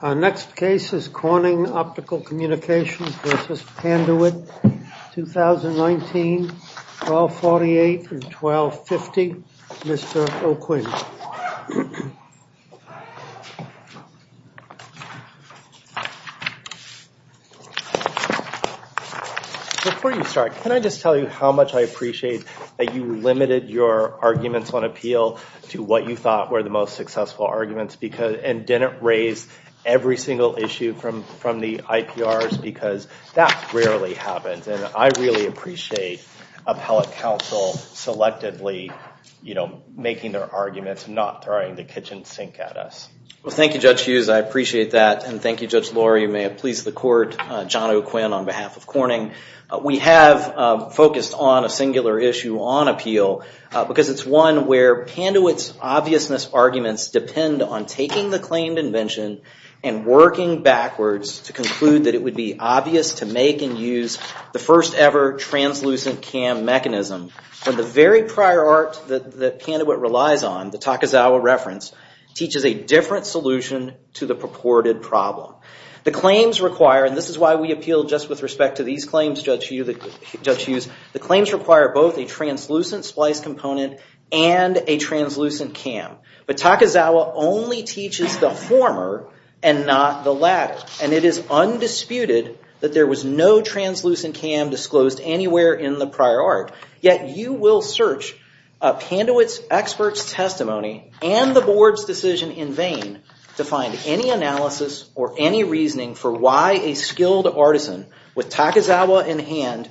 Our next case is Corning Optical Communications v. Panduit, 2019, 1248 and 1250. Mr. O'Quinn. Before you start, can I just tell you how much I appreciate that you limited your arguments on appeal to what you thought were the most successful arguments and didn't raise every single issue from the IPRs because that rarely happens. And I really appreciate appellate counsel selectively making their arguments, not throwing the kitchen sink at us. Well, thank you, Judge Hughes. I appreciate that. And thank you, Judge Lohrer. You may have pleased the court. John O'Quinn on behalf of Corning. We have focused on a singular issue on appeal because it's one where Panduit's obviousness arguments depend on taking the claimed invention and working backwards to conclude that it would be obvious to make and use the first ever translucent CAM mechanism. And the very prior art that Panduit relies on, the Takazawa reference, teaches a different solution to the purported problem. The claims require, and this is why we appeal just with respect to these claims, Judge Hughes, the claims require both a translucent splice component and a translucent CAM. But Takazawa only teaches the former and not the latter. And it is undisputed that there was no translucent CAM disclosed anywhere in the prior art. Yet you will search Panduit's expert's testimony and the board's decision in vain to find any analysis or any reasoning for why a skilled artisan with Takazawa in hand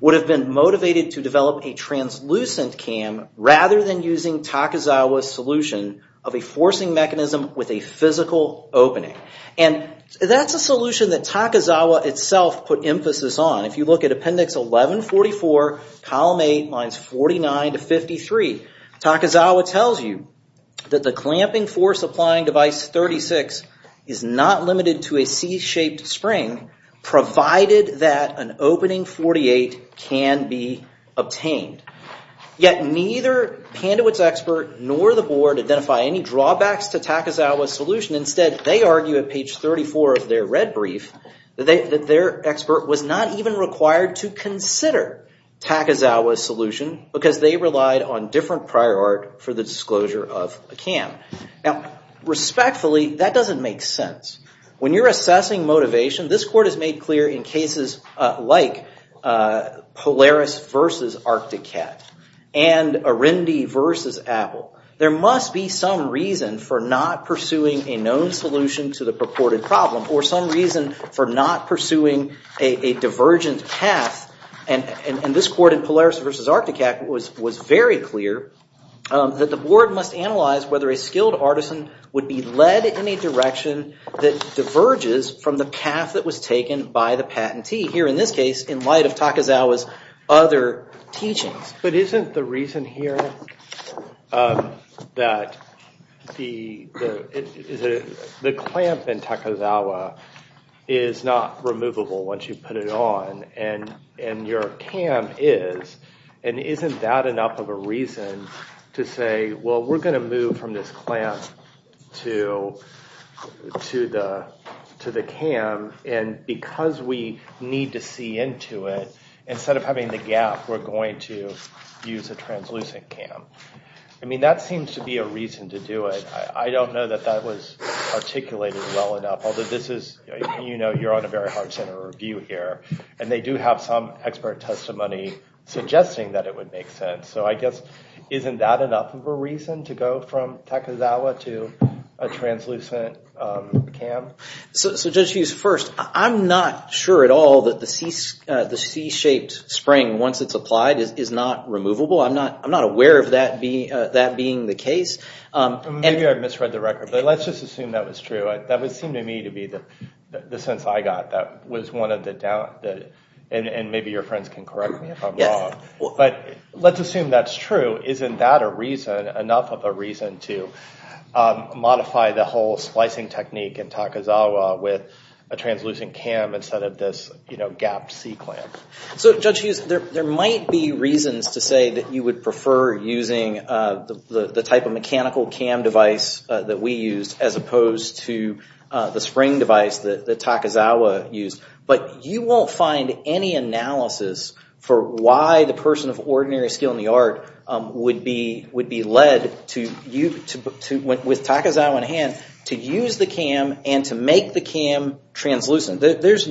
would have been motivated to develop a translucent CAM rather than using Takazawa's solution of a forcing mechanism with a physical opening. And that's a solution that Takazawa itself put emphasis on. If you look at appendix 1144, column 8, lines 49 to 53, Takazawa tells you that the clamping force applying device 36 is not limited to a C-shaped spring provided that an opening 48 can be obtained. Yet neither Panduit's expert nor the board identify any drawbacks to Takazawa's solution. Instead, they argue at page 34 of their red brief that their expert was not even required to consider Takazawa's solution because they relied on different prior art for the disclosure of a CAM. Now, respectfully, that doesn't make sense. When you're assessing motivation, this court has made clear in cases like Polaris v. Arcticat and Arundi v. Apple, there must be some reason for not pursuing a known solution to the purported problem or some reason for not pursuing a divergent path. And this court in Polaris v. Arcticat was very clear that the board must analyze whether a skilled artisan would be led in a direction that diverges from the path that was taken by the patentee. Here, in this case, in light of Takazawa's other teachings. But isn't the reason here that the clamp in Takazawa is not removable once you put it on and your CAM is? And isn't that enough of a reason to say, well, we're going to move from this clamp to the CAM. And because we need to see into it, instead of having the gap, we're going to use a translucent CAM. I mean, that seems to be a reason to do it. I don't know that that was articulated well enough. Although, you're on a very hard center review here. And they do have some expert testimony suggesting that it would make sense. So I guess, isn't that enough of a reason to go from Takazawa to a translucent CAM? So Judge Hughes, first, I'm not sure at all that the C-shaped spring, once it's applied, is not removable. I'm not aware of that being the case. Maybe I misread the record. But let's just assume that was true. That would seem to me to be the sense I got that was one of the doubts. And maybe your friends can correct me if I'm wrong. But let's assume that's true. Isn't that a reason, enough of a reason, to modify the whole splicing technique in Takazawa with a translucent CAM instead of this gap C clamp? So Judge Hughes, there might be reasons to say that you would prefer using the type of mechanical CAM device that we used as opposed to the spring device that Takazawa used. But you won't find any analysis for why the person of ordinary skill in the art would be led, with Takazawa in hand, to use the CAM and to make the CAM translucent. There's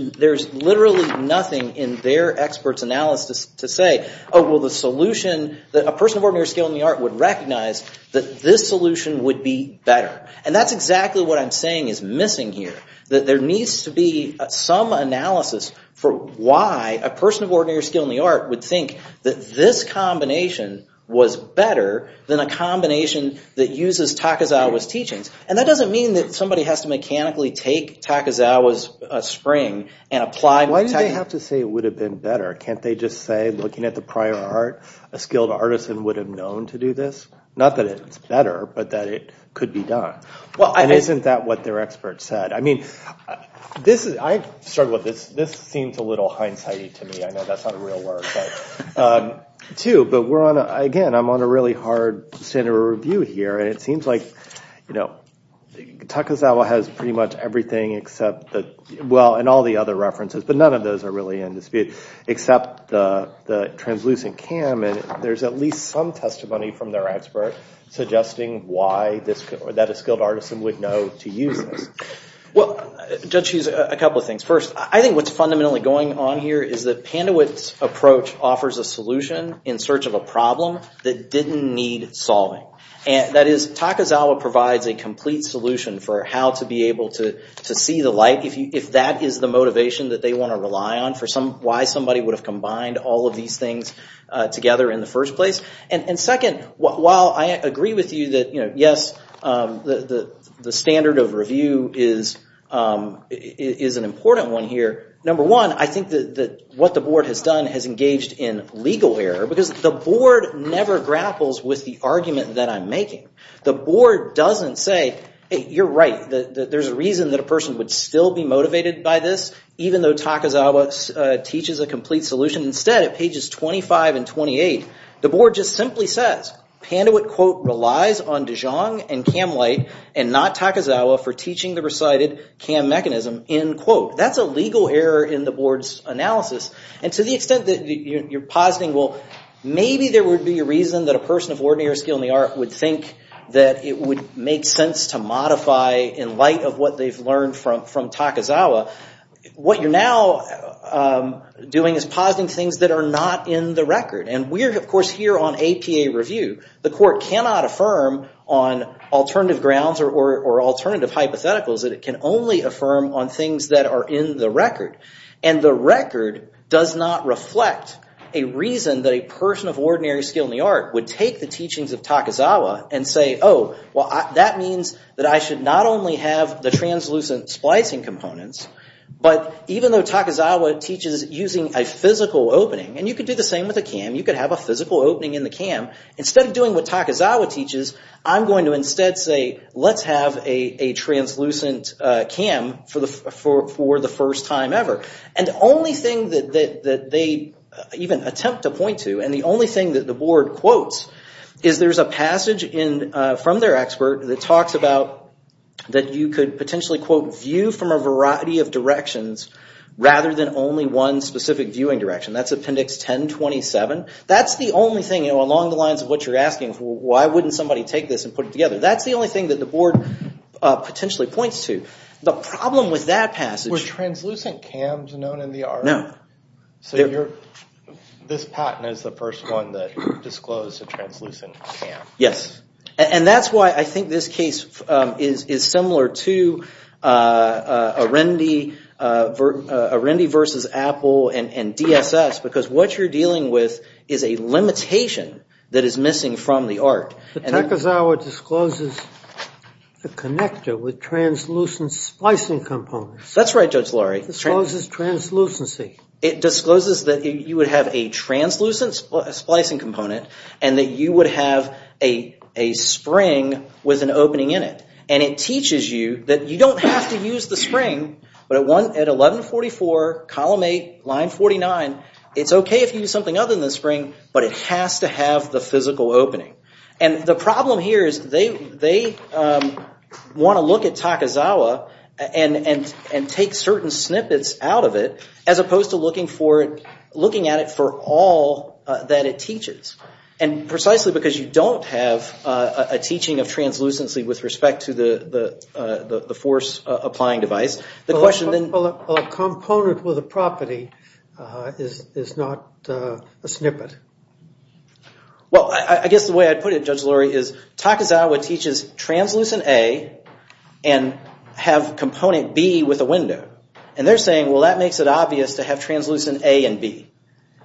literally nothing in their experts' analysis to say, oh, well, the solution, a person of ordinary skill in the art would recognize that this solution would be better. And that's exactly what I'm saying is missing here. That there needs to be some analysis for why a person of ordinary skill in the art would think that this combination was better than a combination that uses Takazawa's teachings. And that doesn't mean that somebody has to mechanically take Takazawa's spring and apply it with Takazawa's CAM. Why do they have to say it would have been better? Can't they just say, looking at the prior art, a skilled artisan would have known to do this? Not that it's better, but that it could be done. And isn't that what their experts said? I mean, I've struggled with this. This seems a little hindsight-y to me. I know that's not a real word. But again, I'm on a really hard standard of review here, and it seems like Takazawa has pretty much everything except, well, and all the other references, but none of those are really in dispute, except the translucent CAM. And there's at least some testimony from their expert suggesting that a skilled artisan would know to use this. Well, Judge Hughes, a couple of things. First, I think what's fundamentally going on here is that Pandewitt's approach offers a solution in search of a problem that didn't need solving. That is, Takazawa provides a complete solution for how to be able to see the light, if that is the motivation that they want to rely on for why somebody would have combined all of these things together in the first place. And second, while I agree with you that, yes, the standard of review is an important one here, number one, I think that what the board has done has engaged in legal error, because the board never grapples with the argument that I'm making. The board doesn't say, hey, you're right, there's a reason that a person would still be motivated by this, even though Takazawa teaches a complete solution. Instead, at pages 25 and 28, the board just simply says, Pandewitt, quote, relies on Dijon and CAM light and not Takazawa for teaching the recited CAM mechanism, end quote. That's a legal error in the board's analysis. And to the extent that you're positing, well, maybe there would be a reason that a person of ordinary skill in the art would think that it would make sense to modify in light of what they've learned from Takazawa. What you're now doing is positing things that are not in the record. And we're, of course, here on APA review. The court cannot affirm on alternative grounds or alternative hypotheticals that it can only affirm on things that are in the record. And the record does not reflect a reason that a person of ordinary skill in the art would take the teachings of Takazawa and say, oh, well, that means that I should not only have the translucent splicing components, but even though Takazawa teaches using a physical opening. And you could do the same with a CAM. You could have a physical opening in the CAM. Instead of doing what Takazawa teaches, I'm going to instead say, let's have a translucent CAM for the first time ever. And the only thing that they even attempt to point to, and the only thing that the board quotes, is there's a passage from their expert that talks about that you could potentially, quote, view from a variety of directions rather than only one specific viewing direction. That's Appendix 1027. That's the only thing along the lines of what you're asking. Why wouldn't somebody take this and put it together? That's the only thing that the board potentially points to. Were translucent CAMs known in the art? No. So this patent is the first one that disclosed a translucent CAM. Yes. And that's why I think this case is similar to Arendi versus Apple and DSS, because what you're dealing with is a limitation that is missing from the art. But Takazawa discloses the connector with translucent splicing components. That's right, Judge Laurie. Discloses translucency. It discloses that you would have a translucent splicing component and that you would have a spring with an opening in it. And it teaches you that you don't have to use the spring. But at 1144, column 8, line 49, it's okay if you use something other than the spring, but it has to have the physical opening. And the problem here is they want to look at Takazawa and take certain snippets out of it as opposed to looking at it for all that it teaches. And precisely because you don't have a teaching of translucency with respect to the force-applying device, the question then... Well, a component with a property is not a snippet. Well, I guess the way I'd put it, Judge Laurie, is Takazawa teaches translucent A and have component B with a window. And they're saying, well, that makes it obvious to have translucent A and B.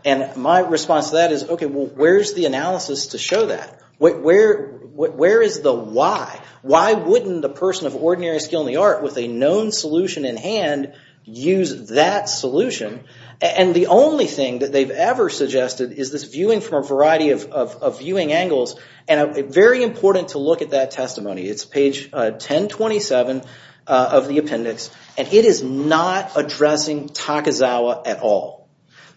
And my response to that is, okay, well, where's the analysis to show that? Where is the why? Why wouldn't a person of ordinary skill in the art with a known solution in hand use that solution? And the only thing that they've ever suggested is this viewing from a variety of viewing angles. And very important to look at that testimony. It's page 1027 of the appendix. And it is not addressing Takazawa at all.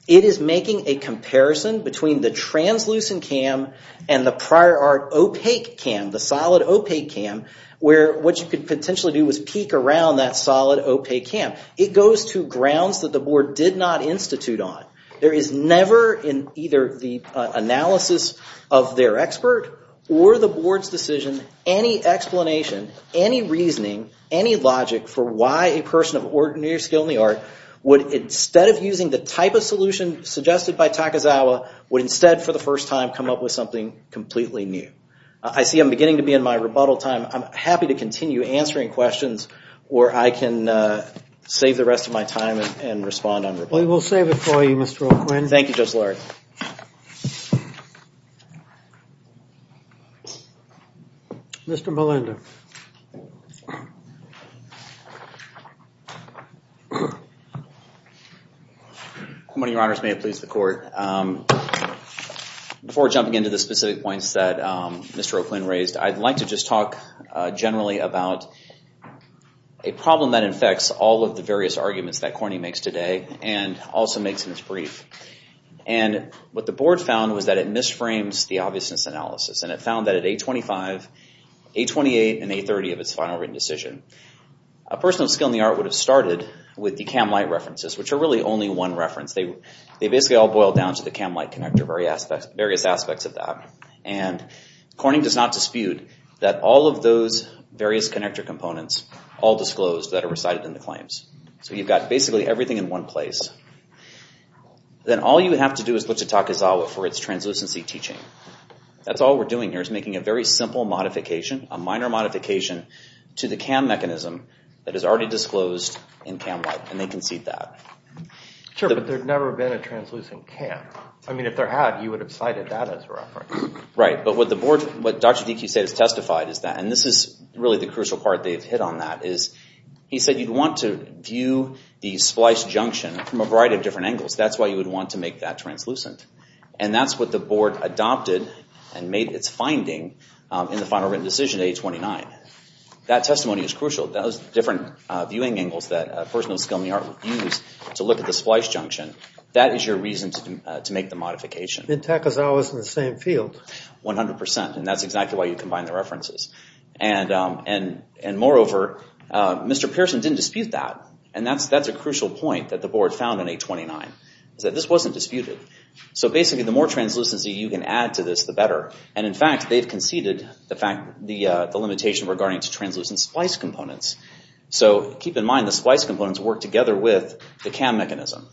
It is making a comparison between the translucent cam and the prior art opaque cam, the solid opaque cam, where what you could potentially do is peek around that solid opaque cam. It goes to grounds that the board did not institute on. There is never in either the analysis of their expert or the board's decision any explanation, any reasoning, any logic for why a person of ordinary skill in the art would, instead of using the type of solution suggested by Takazawa, would instead for the first time come up with something completely new. I see I'm beginning to be in my rebuttal time. I'm happy to continue answering questions, or I can save the rest of my time and respond on rebuttal. Well, we'll save it for you, Mr. O'Quinn. Thank you, Judge Larry. Mr. Melinda. Good morning, your honors. May it please the court. Before jumping into the specific points that Mr. O'Quinn raised, I'd like to just talk generally about a problem that infects all of the various arguments that Corny makes today. And also makes in his brief. And what the board found was that it misframes the obviousness analysis. And it found that at A25, A28, and A30 of its final written decision, a person of skill in the art would have started with the cam light references, which are really only one reference. They basically all boil down to the cam light connector, various aspects of that. And Corny does not dispute that all of those various connector components all disclosed that are recited in the claims. So you've got basically everything in one place. Then all you have to do is look to Takizawa for its translucency teaching. That's all we're doing here is making a very simple modification, a minor modification, to the cam mechanism that is already disclosed in cam light. And they concede that. Sure, but there's never been a translucent cam. I mean, if there had, you would have cited that as a reference. Right. But what Dr. Deke has testified is that, and this is really the crucial part they've hit on that, is he said you'd want to view the splice junction from a variety of different angles. That's why you would want to make that translucent. And that's what the board adopted and made its finding in the final written decision, A29. That testimony is crucial. That was different viewing angles that a person of skill in the art would use to look at the splice junction. That is your reason to make the modification. And Takizawa is in the same field. 100%, and that's exactly why you combine the references. And moreover, Mr. Pearson didn't dispute that. And that's a crucial point that the board found in A29, is that this wasn't disputed. So basically, the more translucency you can add to this, the better. And in fact, they've conceded the fact, the limitation regarding translucent splice components. So keep in mind, the splice components work together with the cam mechanism.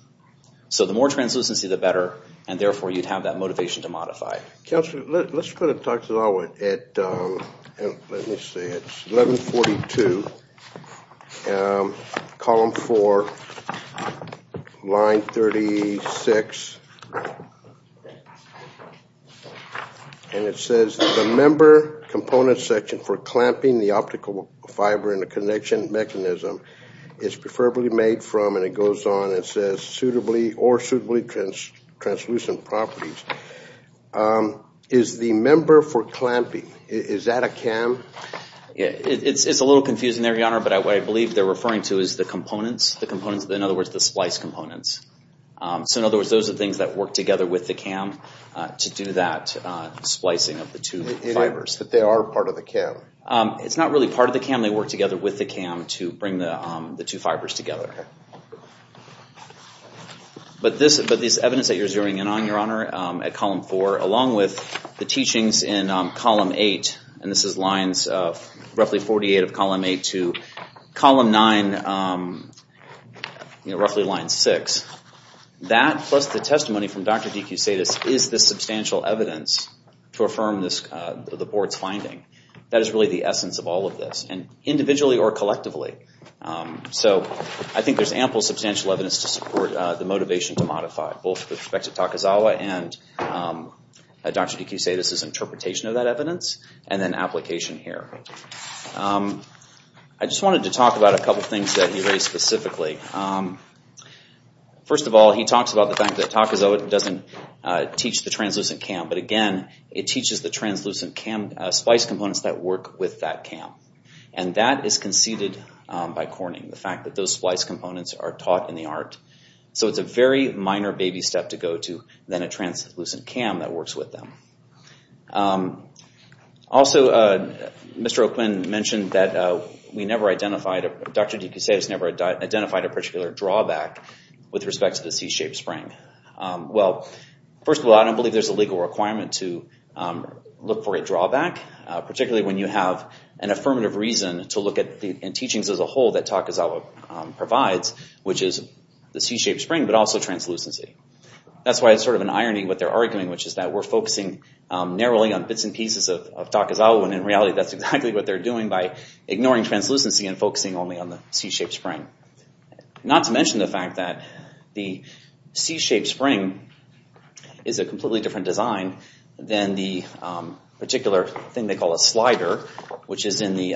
So the more translucency, the better. And therefore, you'd have that motivation to modify. Counselor, let's go to Takizawa at, let me see, it's 1142, column 4, line 36. And it says, the member component section for clamping the optical fiber in the connection mechanism is preferably made from, and it goes on, it says, suitably or suitably translucent properties. Is the member for clamping, is that a cam? It's a little confusing there, Your Honor, but what I believe they're referring to is the components. The components, in other words, the splice components. So in other words, those are things that work together with the cam to do that splicing of the two fibers. That they are part of the cam. It's not really part of the cam. They work together with the cam to bring the two fibers together. But this evidence that you're zeroing in on, Your Honor, at column 4, along with the teachings in column 8, and this is lines roughly 48 of column 8 to column 9, roughly line 6, that plus the testimony from Dr. DeCusades is the substantial evidence to affirm the board's finding. That is really the essence of all of this, and individually or collectively. So I think there's ample substantial evidence to support the motivation to modify, both with respect to Takazawa and Dr. DeCusades' interpretation of that evidence, and then application here. I just wanted to talk about a couple things that he raised specifically. First of all, he talks about the fact that Takazawa doesn't teach the translucent cam, but again, it teaches the translucent splice components that work with that cam. That is conceded by Corning, the fact that those splice components are taught in the art. So it's a very minor baby step to go to than a translucent cam that works with them. Also, Mr. Oakman mentioned that Dr. DeCusades never identified a particular drawback with respect to the C-shaped spring. Well, first of all, I don't believe there's a legal requirement to look for a drawback, particularly when you have an affirmative reason to look at the teachings as a whole that Takazawa provides, which is the C-shaped spring, but also translucency. That's why it's sort of an irony what they're arguing, which is that we're focusing narrowly on bits and pieces of Takazawa, when in reality that's exactly what they're doing by ignoring translucency and focusing only on the C-shaped spring. Not to mention the fact that the C-shaped spring is a completely different design than the particular thing they call a slider, which is in the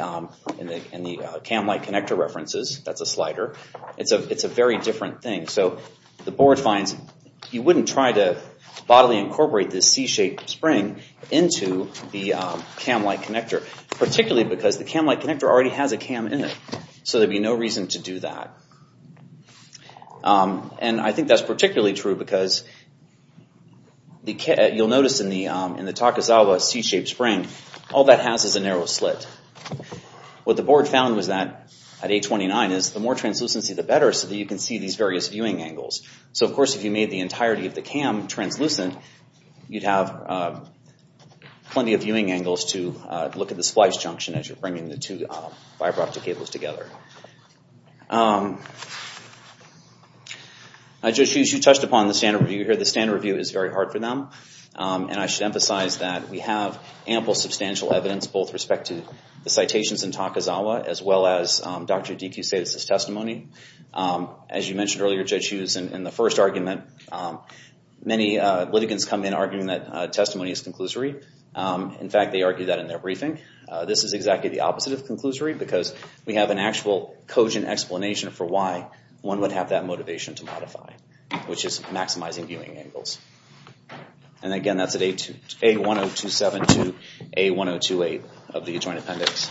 cam-like connector references. That's a slider. It's a very different thing. So the board finds you wouldn't try to bodily incorporate this C-shaped spring into the cam-like connector, particularly because the cam-like connector already has a cam in it, so there'd be no reason to do that. And I think that's particularly true because you'll notice in the Takazawa C-shaped spring, all that has is a narrow slit. What the board found was that at A29 is the more translucency the better so that you can see these various viewing angles. So of course if you made the entirety of the cam translucent, you'd have plenty of viewing angles to look at the splice junction as you're bringing the two fiber optic cables together. Judge Hughes, you touched upon the standard review here. The standard review is very hard for them, and I should emphasize that we have ample substantial evidence, both with respect to the citations in Takazawa, as well as Dr. Dekeus's testimony. As you mentioned earlier, Judge Hughes, in the first argument, many litigants come in arguing that testimony is conclusory. In fact, they argue that in their briefing. This is exactly the opposite of conclusory because we have an actual cogent explanation for why one would have that motivation to modify, which is maximizing viewing angles. And again, that's at A1027 to A1028 of the joint appendix.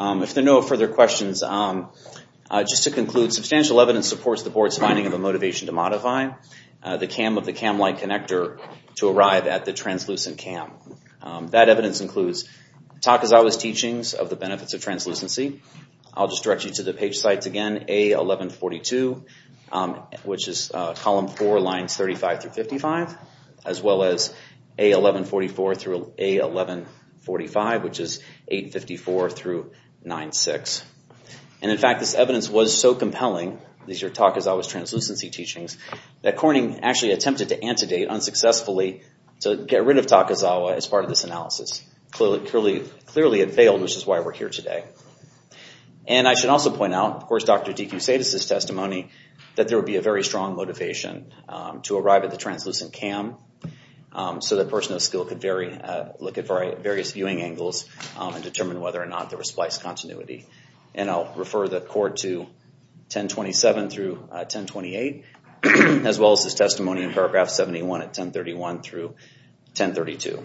If there are no further questions, just to conclude, substantial evidence supports the board's finding of a motivation to modify the cam of the cam light connector to arrive at the translucent cam. That evidence includes Takazawa's teachings of the benefits of translucency. I'll just direct you to the page sites again, A1142, which is column four, lines 35 through 55, as well as A1144 through A1145, which is 854 through 96. And in fact, this evidence was so compelling, these are Takazawa's translucency teachings, that Corning actually attempted to antedate, unsuccessfully, to get rid of Takazawa as part of this analysis. Clearly it failed, which is why we're here today. And I should also point out, of course, Dr. D. Q. Sadas' testimony, that there would be a very strong motivation to arrive at the translucent cam so that person of skill could look at various viewing angles and determine whether or not there was splice continuity. And I'll refer the court to 1027 through 1028, as well as his testimony in paragraph 71 at 1031 through 1032.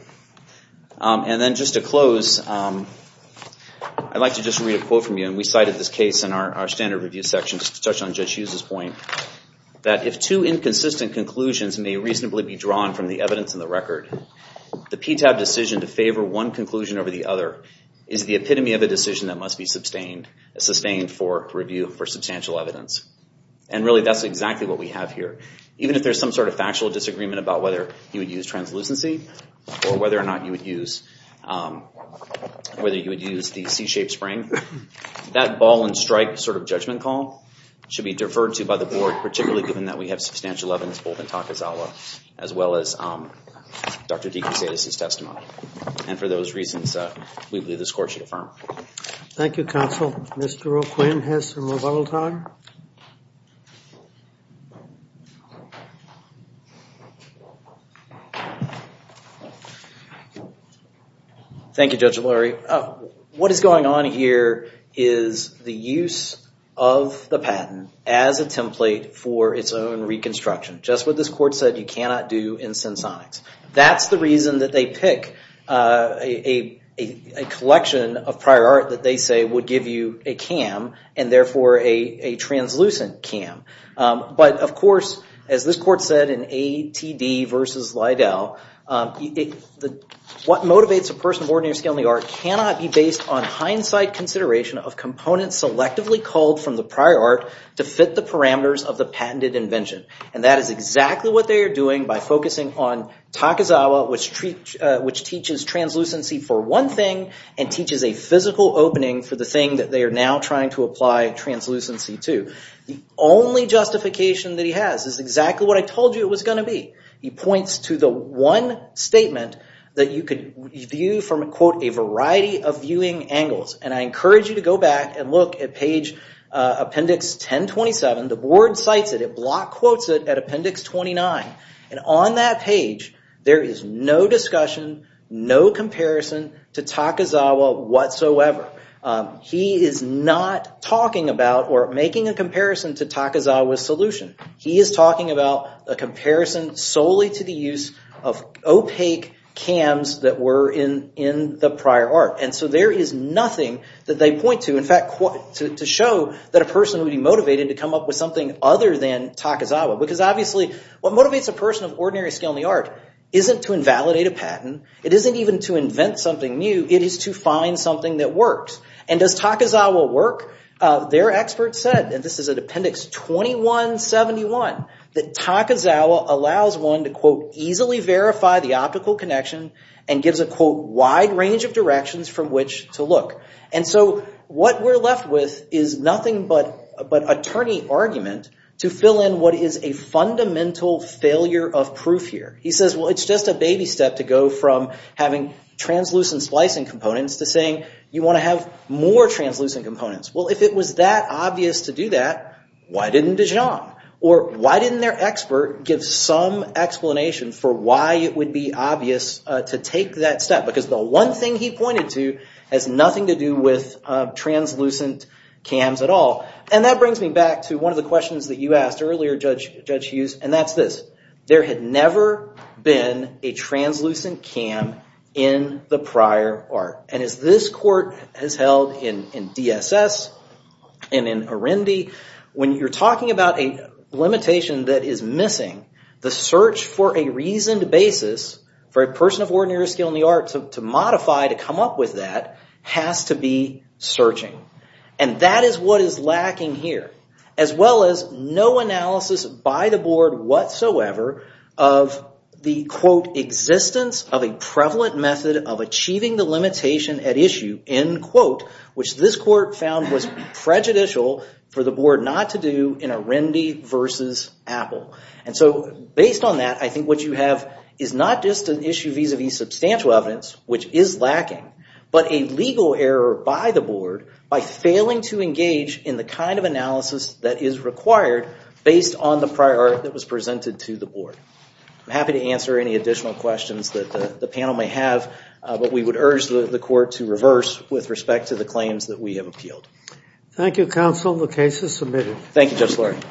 And then just to close, I'd like to just read a quote from you, and we cited this case in our standard review section, just to touch on Judge Hughes' point, that if two inconsistent conclusions may reasonably be drawn from the evidence in the record, the PTAB decision to favor one conclusion over the other is the epitome of a decision that must be sustained for review for substantial evidence. And really, that's exactly what we have here. Even if there's some sort of factual disagreement about whether you would use translucency or whether or not you would use the C-shaped spring, that ball-and-strike sort of judgment call should be deferred to by the board, particularly given that we have substantial evidence both in Takazawa as well as Dr. Deacon-Sedis' testimony. And for those reasons, we believe this court should affirm. Thank you, counsel. Mr. O'Quinn has some rebuttal time. Thank you, Judge O'Leary. What is going on here is the use of the patent as a template for its own reconstruction. Just what this court said you cannot do in sinsonics. That's the reason that they pick a collection of prior art that they say would give you a CAM and therefore a translucent CAM. But of course, as this court said in A.T.D. v. Lidell, what motivates a person of ordinary skill in the art cannot be based on hindsight consideration of components selectively called from the prior art to fit the parameters of the patented invention. And that is exactly what they are doing by focusing on Takazawa, which teaches translucency for one thing and teaches a physical opening for the thing that they are now trying to apply translucency to. The only justification that he has is exactly what I told you it was going to be. He points to the one statement that you could view from, quote, a variety of viewing angles. And I encourage you to go back and look at page appendix 1027. The board cites it. It block quotes it at appendix 29. And on that page, there is no discussion, no comparison to Takazawa whatsoever. He is not talking about or making a comparison to Takazawa's solution. He is talking about a comparison solely to the use of opaque CAMs that were in the prior art. And so there is nothing that they point to, in fact, to show that a person would be motivated to come up with something other than Takazawa. Because obviously, what motivates a person of ordinary skill in the art isn't to invalidate a patent. It isn't even to invent something new. It is to find something that works. And does Takazawa work? Their experts said, and this is at appendix 2171, that Takazawa allows one to, quote, easily verify the optical connection and gives a, quote, wide range of directions from which to look. And so what we're left with is nothing but attorney argument to fill in what is a fundamental failure of proof here. He says, well, it's just a baby step to go from having translucent splicing components to saying you want to have more translucent components. Well, if it was that obvious to do that, why didn't Dijon? Or why didn't their expert give some explanation for why it would be obvious to take that step? Because the one thing he pointed to has nothing to do with translucent CAMs at all. And that brings me back to one of the questions that you asked earlier, Judge Hughes, and that's this. There had never been a translucent CAM in the prior art. And as this court has held in DSS and in Arendi, when you're talking about a limitation that is missing, the search for a reasoned basis for a person of ordinary skill in the art to modify to come up with that has to be searching. And that is what is lacking here, as well as no analysis by the board whatsoever of the, quote, existence of a prevalent method of achieving the limitation at issue, end quote, which this court found was prejudicial for the board not to do in Arendi versus Apple. And so based on that, I think what you have is not just an issue vis-a-vis substantial evidence, which is lacking, but a legal error by the board by failing to engage in the kind of analysis that is required based on the prior art that was presented to the board. I'm happy to answer any additional questions that the panel may have, but we would urge the court to reverse with respect to the claims that we have appealed. Thank you, counsel. The case is submitted. Thank you, Judge Lurie.